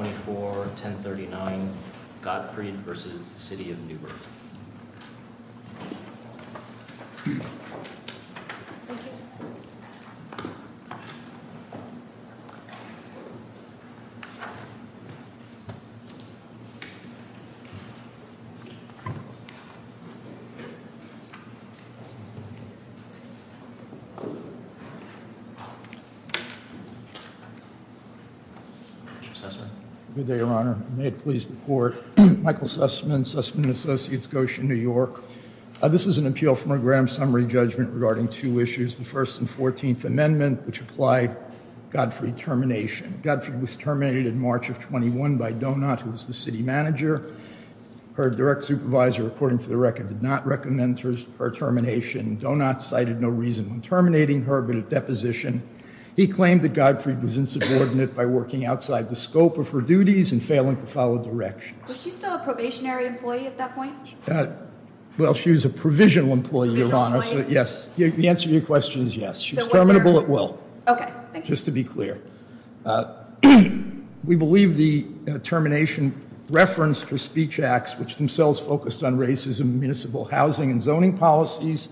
24-1039 Godfryd v. City of Newburgh Good day, Your Honor. May it please the Court. Michael Sussman, Sussman & Associates, Goshen, New York. This is an appeal from a grand summary judgment regarding two issues, the First and Fourteenth Amendment, which applied Godfryd termination. Godfryd was terminated in March of 21 by Donat, who was the city manager. Her direct supervisor, according to the record, did not recommend her termination. Donat cited no reason in terminating her, but at deposition, he claimed that Godfryd was insubordinate by working outside the scope of her duties and failing to follow directions. Was she still a probationary employee at that point? Well, she was a provisional employee, Your Honor, so yes. The answer to your question is yes. She was terminable at will. Okay, thank you. Just to be clear, we believe the termination referenced her speech acts, which themselves focused on racism in municipal housing and zoning policies.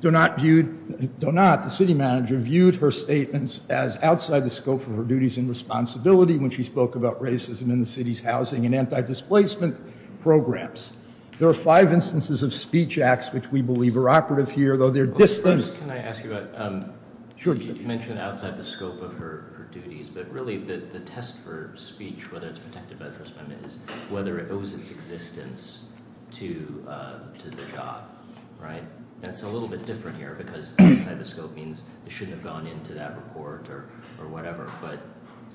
Donat, the city manager, viewed her statements as outside the scope of her duties and responsibility when she spoke about racism in the city's housing and anti-displacement programs. There are five instances of speech acts which we believe are operative here, though they're distanced. First, can I ask you about – you mentioned outside the scope of her duties, but really the test for speech, whether it's protected by the First Amendment, is whether it owes its existence to the job, right? That's a little bit different here because outside the scope means it shouldn't have gone into that report or whatever, but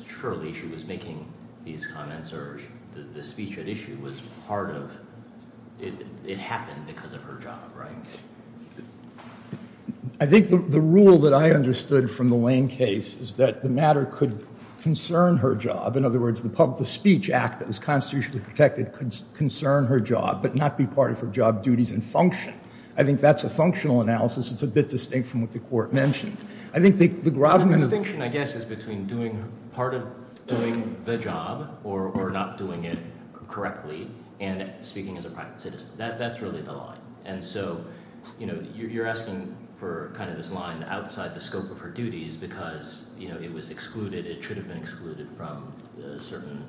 surely she was making these comments or the speech at issue was part of – it happened because of her job, right? I think the rule that I understood from the Lane case is that the matter could concern her job. In other words, the speech act that was constitutionally protected could concern her job but not be part of her job duties and function. I think that's a functional analysis. It's a bit distinct from what the court mentioned. I think the – The distinction, I guess, is between doing – part of doing the job or not doing it correctly and speaking as a private citizen. That's really the line. And so you're asking for kind of this line outside the scope of her duties because it was excluded. It should have been excluded from certain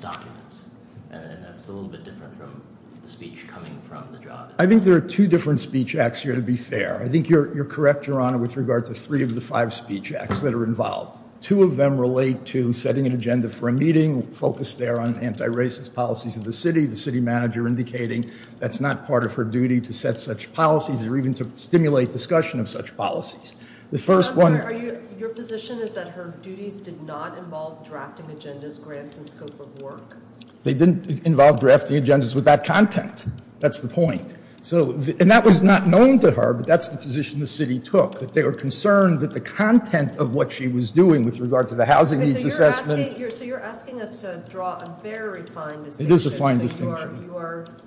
documents, and that's a little bit different from the speech coming from the job. I think there are two different speech acts here, to be fair. I think you're correct, Your Honor, with regard to three of the five speech acts that are involved. Two of them relate to setting an agenda for a meeting focused there on anti-racist policies of the city, the city manager indicating that's not part of her duty to set such policies or even to stimulate discussion of such policies. The first one – Your position is that her duties did not involve drafting agendas, grants, and scope of work? They didn't involve drafting agendas with that content. That's the point. So – and that was not known to her, but that's the position the city took, that they were concerned that the content of what she was doing with regard to the housing needs assessment – So you're asking us to draw a very fine distinction. It is a fine distinction.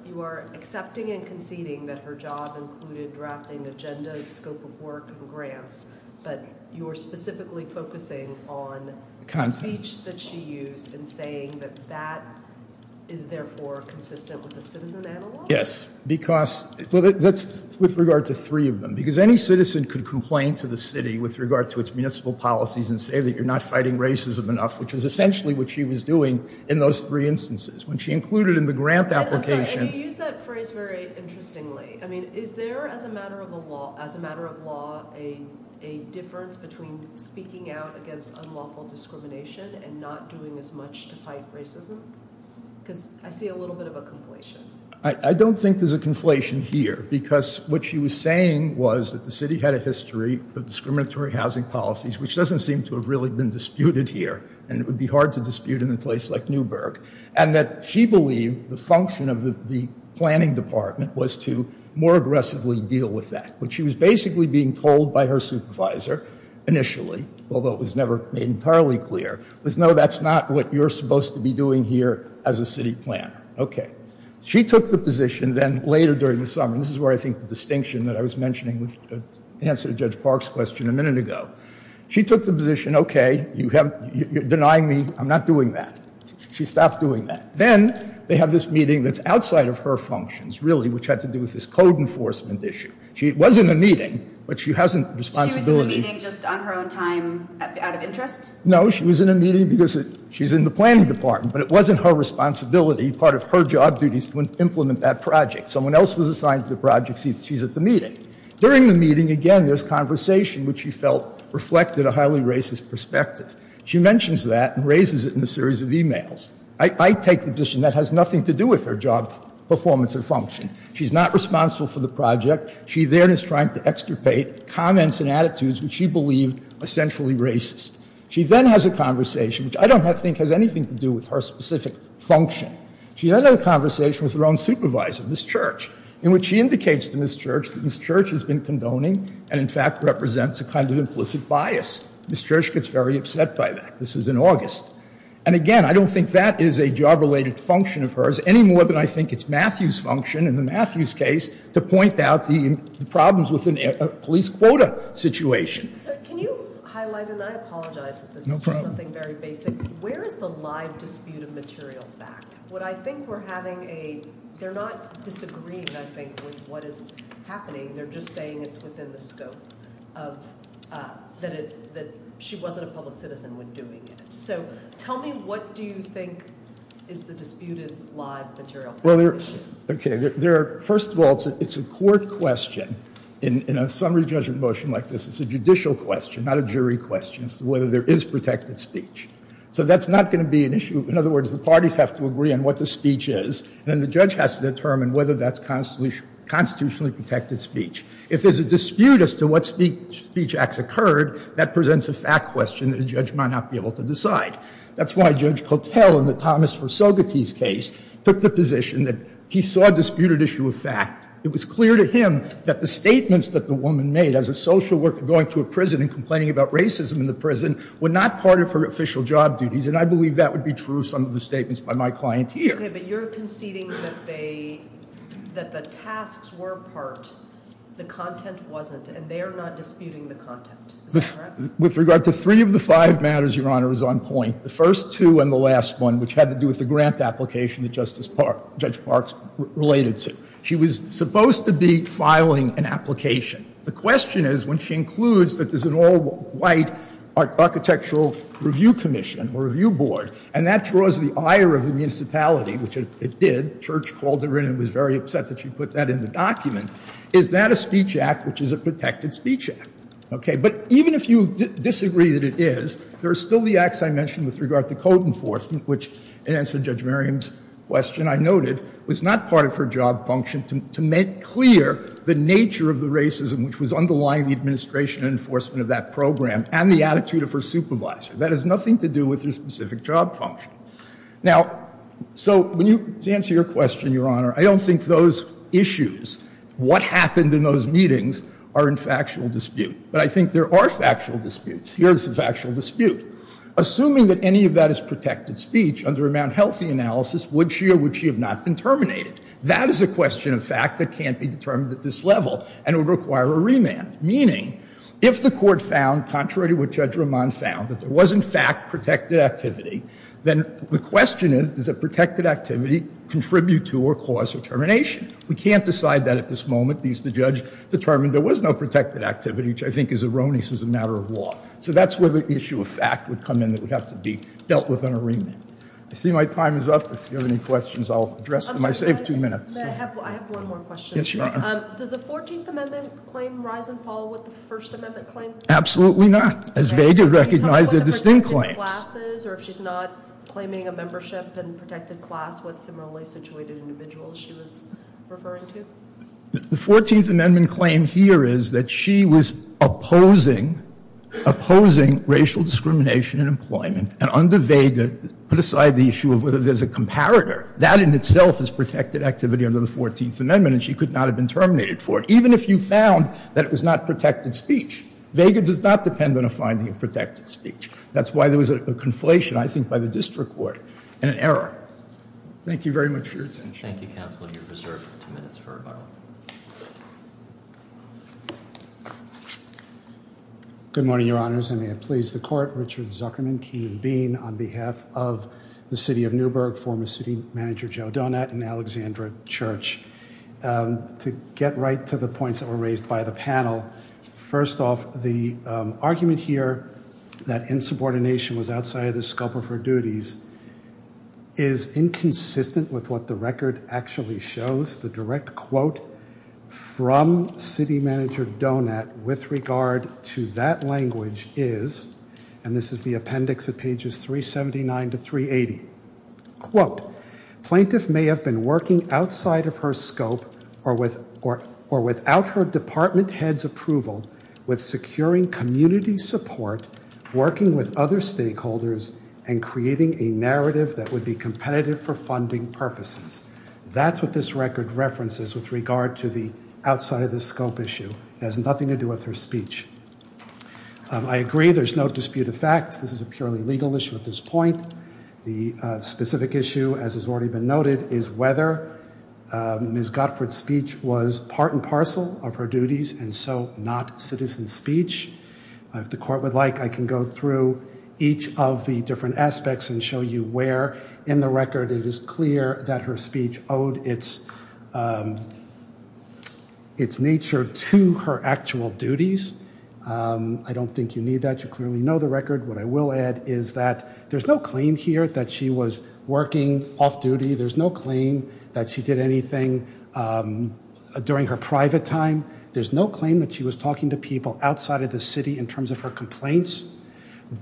You are accepting and conceding that her job included drafting agendas, scope of work, and grants, but you are specifically focusing on the speech that she used in saying that that is therefore consistent with the citizen analog? Yes, because – well, that's with regard to three of them. Because any citizen could complain to the city with regard to its municipal policies and say that you're not fighting racism enough, which is essentially what she was doing in those three instances. When she included in the grant application – I'm sorry, you use that phrase very interestingly. I mean, is there, as a matter of law, a difference between speaking out against unlawful discrimination and not doing as much to fight racism? Because I see a little bit of a conflation. I don't think there's a conflation here, because what she was saying was that the city had a history of discriminatory housing policies, which doesn't seem to have really been disputed here, and it would be hard to dispute in a place like Newburgh, and that she believed the function of the planning department was to more aggressively deal with that. What she was basically being told by her supervisor initially, although it was never made entirely clear, was no, that's not what you're supposed to be doing here as a city planner. Okay. She took the position then later during the summer, and this is where I think the distinction that I was mentioning with the answer to Judge Park's question a minute ago. She took the position, okay, you're denying me, I'm not doing that. She stopped doing that. Then they have this meeting that's outside of her functions, really, which had to do with this code enforcement issue. She was in a meeting, but she hasn't – She was in the meeting just on her own time, out of interest? No, she was in a meeting because she's in the planning department, but it wasn't her responsibility, part of her job duties, to implement that project. Someone else was assigned to the project. She's at the meeting. During the meeting, again, there's conversation which she felt reflected a highly racist perspective. She mentions that and raises it in a series of e-mails. I take the position that has nothing to do with her job performance or function. She's not responsible for the project. She then is trying to extirpate comments and attitudes which she believed were centrally racist. She then has a conversation which I don't think has anything to do with her specific function. She then had a conversation with her own supervisor, Ms. Church, in which she indicates to Ms. Church that Ms. Church has been condoning and, in fact, represents a kind of implicit bias. Ms. Church gets very upset by that. This is in August. And, again, I don't think that is a job-related function of hers, any more than I think it's Matthew's function in the Matthews case to point out the problems with the police quota situation. Sir, can you highlight, and I apologize for this. No problem. It's just something very basic. Where is the live dispute of material fact? What I think we're having a—they're not disagreeing, I think, with what is happening. They're just saying it's within the scope of—that she wasn't a public citizen when doing it. So tell me what do you think is the disputed live material fact issue. Okay. First of all, it's a court question in a summary judgment motion like this. It's a judicial question, not a jury question, as to whether there is protected speech. So that's not going to be an issue. In other words, the parties have to agree on what the speech is, and then the judge has to determine whether that's constitutionally protected speech. If there's a dispute as to what speech acts occurred, that presents a fact question that a judge might not be able to decide. That's why Judge Kotel, in the Thomas Versogetes case, took the position that he saw a disputed issue of fact. It was clear to him that the statements that the woman made, as a social worker going to a prison and complaining about racism in the prison, were not part of her official job duties, and I believe that would be true of some of the statements by my client here. Okay, but you're conceding that they—that the tasks were part, the content wasn't, and they are not disputing the content. Is that correct? With regard to three of the five matters, Your Honor, is on point. The first two and the last one, which had to do with the grant application that Judge Parks related to. She was supposed to be filing an application. The question is, when she includes that there's an all-white architectural review commission or review board, and that draws the ire of the municipality, which it did. Church called her in and was very upset that she put that in the document. Is that a speech act which is a protected speech act? Okay, but even if you disagree that it is, there are still the acts I mentioned with regard to code enforcement, which, in answer to Judge Merriam's question I noted, was not part of her job function to make clear the nature of the racism which was underlying the administration and enforcement of that program and the attitude of her supervisor. That has nothing to do with her specific job function. Now, so when you—to answer your question, Your Honor, I don't think those issues, what happened in those meetings, are in factual dispute. But I think there are factual disputes. Here's the factual dispute. Assuming that any of that is protected speech under a Mount Healthy analysis, would she or would she have not been terminated? That is a question of fact that can't be determined at this level, and it would require a remand. Meaning, if the court found, contrary to what Judge Roman found, that there was, in fact, protected activity, then the question is, does that protected activity contribute to or cause her termination? We can't decide that at this moment, because the judge determined there was no protected activity, which I think is erroneous as a matter of law. So that's where the issue of fact would come in that would have to be dealt with on a remand. I see my time is up. If you have any questions, I'll address them. I saved two minutes. May I have one more question? Yes, Your Honor. Does the 14th Amendment claim rise and fall with the First Amendment claim? Absolutely not. As Vega recognized, they're distinct claims. Can you talk about the protected classes, or if she's not claiming a membership in protected class, what similarly situated individuals she was referring to? The 14th Amendment claim here is that she was opposing, opposing racial discrimination in employment, and under Vega put aside the issue of whether there's a comparator. That in itself is protected activity under the 14th Amendment, and she could not have been terminated for it, even if you found that it was not protected speech. Vega does not depend on a finding of protected speech. That's why there was a conflation, I think, by the district court and an error. Thank you very much for your attention. Thank you, counsel. You're reserved two minutes for rebuttal. Good morning, Your Honors. I may have pleased the court, Richard Zuckerman, Keenan Bean on behalf of the city of Newburgh, former city manager Joe Donat and Alexandra Church. To get right to the points that were raised by the panel, first off, the argument here that insubordination was outside of the scope of her duties is inconsistent with what the record actually shows. The direct quote from city manager Donat with regard to that language is, and this is the appendix at pages 379 to 380, quote, Plaintiff may have been working outside of her scope or without her department head's approval with securing community support, working with other stakeholders, and creating a narrative that would be competitive for funding purposes. That's what this record references with regard to the outside-of-the-scope issue. It has nothing to do with her speech. I agree there's no dispute of fact. This is a purely legal issue at this point. The specific issue, as has already been noted, is whether Ms. Godford's speech was part and parcel of her duties and so not citizen speech. If the court would like, I can go through each of the different aspects and show you where in the record it is clear that her speech owed its nature to her actual duties. I don't think you need that. You clearly know the record. What I will add is that there's no claim here that she was working off-duty. There's no claim that she did anything during her private time. There's no claim that she was talking to people outside of the city in terms of her complaints.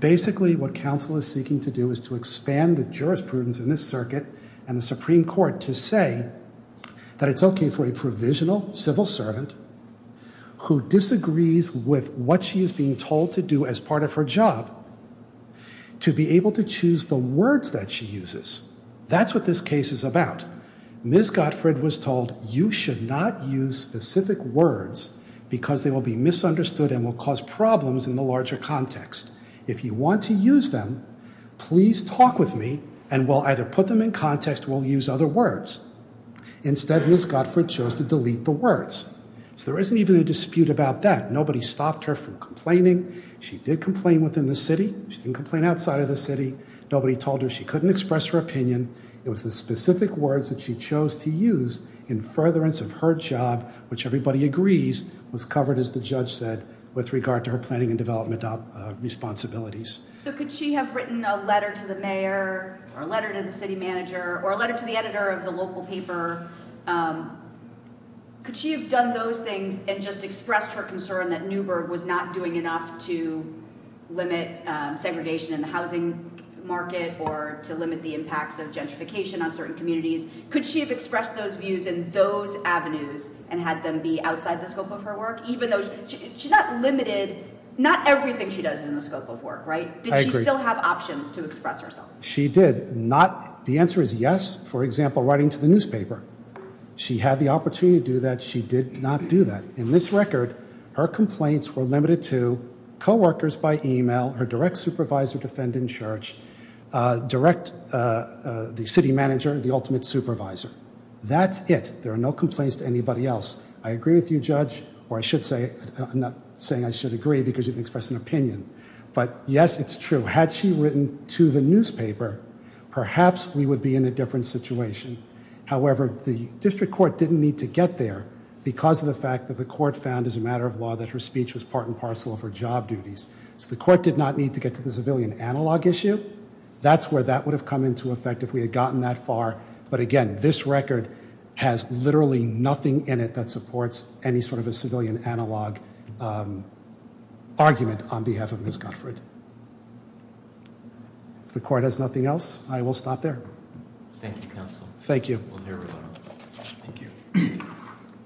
Basically, what counsel is seeking to do is to expand the jurisprudence in this circuit and the Supreme Court to say that it's okay for a provisional civil servant who disagrees with what she is being told to do as part of her job to be able to choose the words that she uses. That's what this case is about. Ms. Godford was told you should not use specific words because they will be misunderstood and will cause problems in the larger context. If you want to use them, please talk with me and we'll either put them in context or we'll use other words. Instead, Ms. Godford chose to delete the words. So there isn't even a dispute about that. Nobody stopped her from complaining. She did complain within the city. She didn't complain outside of the city. Nobody told her she couldn't express her opinion. It was the specific words that she chose to use in furtherance of her job, which everybody agrees was covered, as the judge said, with regard to her planning and development responsibilities. So could she have written a letter to the mayor or a letter to the city manager or a letter to the editor of the local paper? Could she have done those things and just expressed her concern that Newburgh was not doing enough to limit segregation in the housing market or to limit the impacts of gentrification on certain communities? Could she have expressed those views in those avenues and had them be outside the scope of her work? She's not limited. Not everything she does is in the scope of work, right? Did she still have options to express herself? She did. The answer is yes, for example, writing to the newspaper. She had the opportunity to do that. She did not do that. In this record, her complaints were limited to coworkers by email, her direct supervisor, defendant, and church, the city manager, and the ultimate supervisor. That's it. There are no complaints to anybody else. I agree with you, Judge, or I'm not saying I should agree because you didn't express an opinion. But, yes, it's true. Had she written to the newspaper, perhaps we would be in a different situation. However, the district court didn't need to get there because of the fact that the court found as a matter of law that her speech was part and parcel of her job duties. So the court did not need to get to the civilian analog issue. That's where that would have come into effect if we had gotten that far. But, again, this record has literally nothing in it that supports any sort of a civilian analog argument on behalf of Ms. Godfrey. If the court has nothing else, I will stop there. Thank you, counsel. Thank you. We'll hear from everyone. Thank you.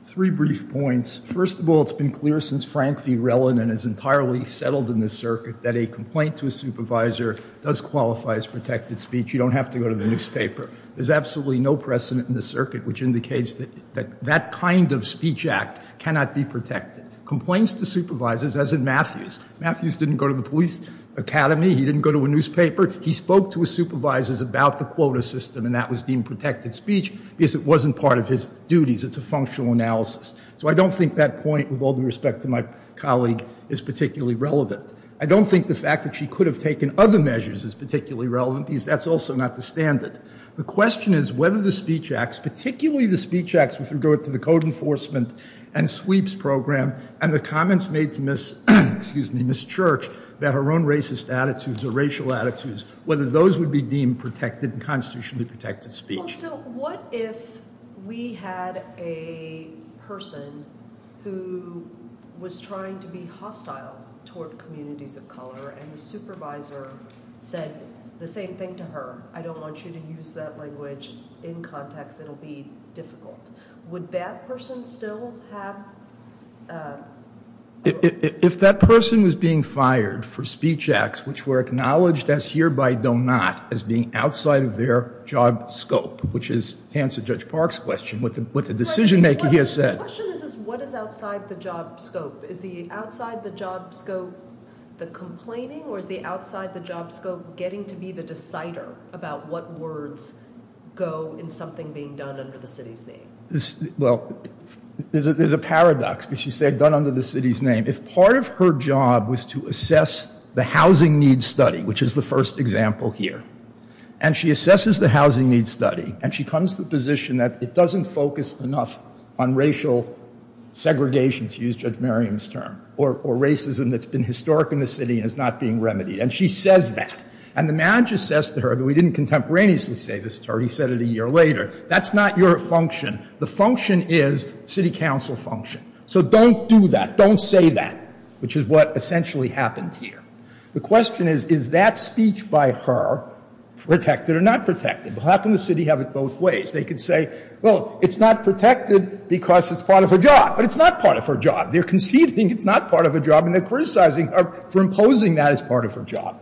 Three brief points. First of all, it's been clear since Frank V. Rellon and is entirely settled in this circuit that a complaint to a supervisor does qualify as protected speech. You don't have to go to the newspaper. There's absolutely no precedent in this circuit which indicates that that kind of speech act cannot be protected. Complaints to supervisors, as in Matthews, Matthews didn't go to the police academy, he didn't go to a newspaper. He spoke to his supervisors about the quota system, and that was deemed protected speech because it wasn't part of his duties. It's a functional analysis. So I don't think that point, with all due respect to my colleague, is particularly relevant. I don't think the fact that she could have taken other measures is particularly relevant because that's also not the standard. The question is whether the speech acts, particularly the speech acts with regard to the code enforcement and sweeps program and the comments made to Ms. Church about her own racist attitudes or racial attitudes, whether those would be deemed protected and constitutionally protected speech. Well, so what if we had a person who was trying to be hostile toward communities of color and the supervisor said the same thing to her? I don't want you to use that language in context. It will be difficult. Would that person still have? If that person was being fired for speech acts which were acknowledged as being outside of their job scope, which is to answer Judge Park's question, what the decision-maker here said. The question is what is outside the job scope? Is the outside the job scope the complaining or is the outside the job scope getting to be the decider about what words go in something being done under the city's name? Well, there's a paradox, but she said done under the city's name. If part of her job was to assess the housing needs study, which is the first example here, and she assesses the housing needs study and she comes to the position that it doesn't focus enough on racial segregation, to use Judge Merriam's term, or racism that's been historic in the city and is not being remedied. And she says that. And the manager says to her, though he didn't contemporaneously say this to her, he said it a year later, that's not your function. The function is city council function. So don't do that. Don't say that, which is what essentially happened here. The question is, is that speech by her protected or not protected? How can the city have it both ways? They could say, well, it's not protected because it's part of her job. But it's not part of her job. They're conceding it's not part of her job and they're criticizing her for imposing that as part of her job.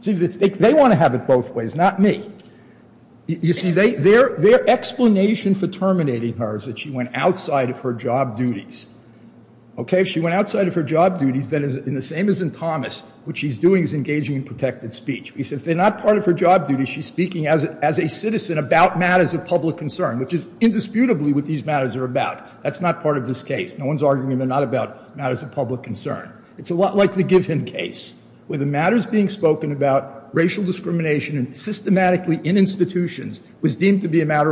See, they want to have it both ways, not me. You see, their explanation for terminating her is that she went outside of her job duties. Okay? She went outside of her job duties. And the same as in Thomas, what she's doing is engaging in protected speech. He said if they're not part of her job duties, she's speaking as a citizen about matters of public concern, which is indisputably what these matters are about. That's not part of this case. No one's arguing they're not about matters of public concern. It's a lot like the Giffen case, where the matters being spoken about, racial discrimination, and systematically in institutions, was deemed to be a matter of public concern.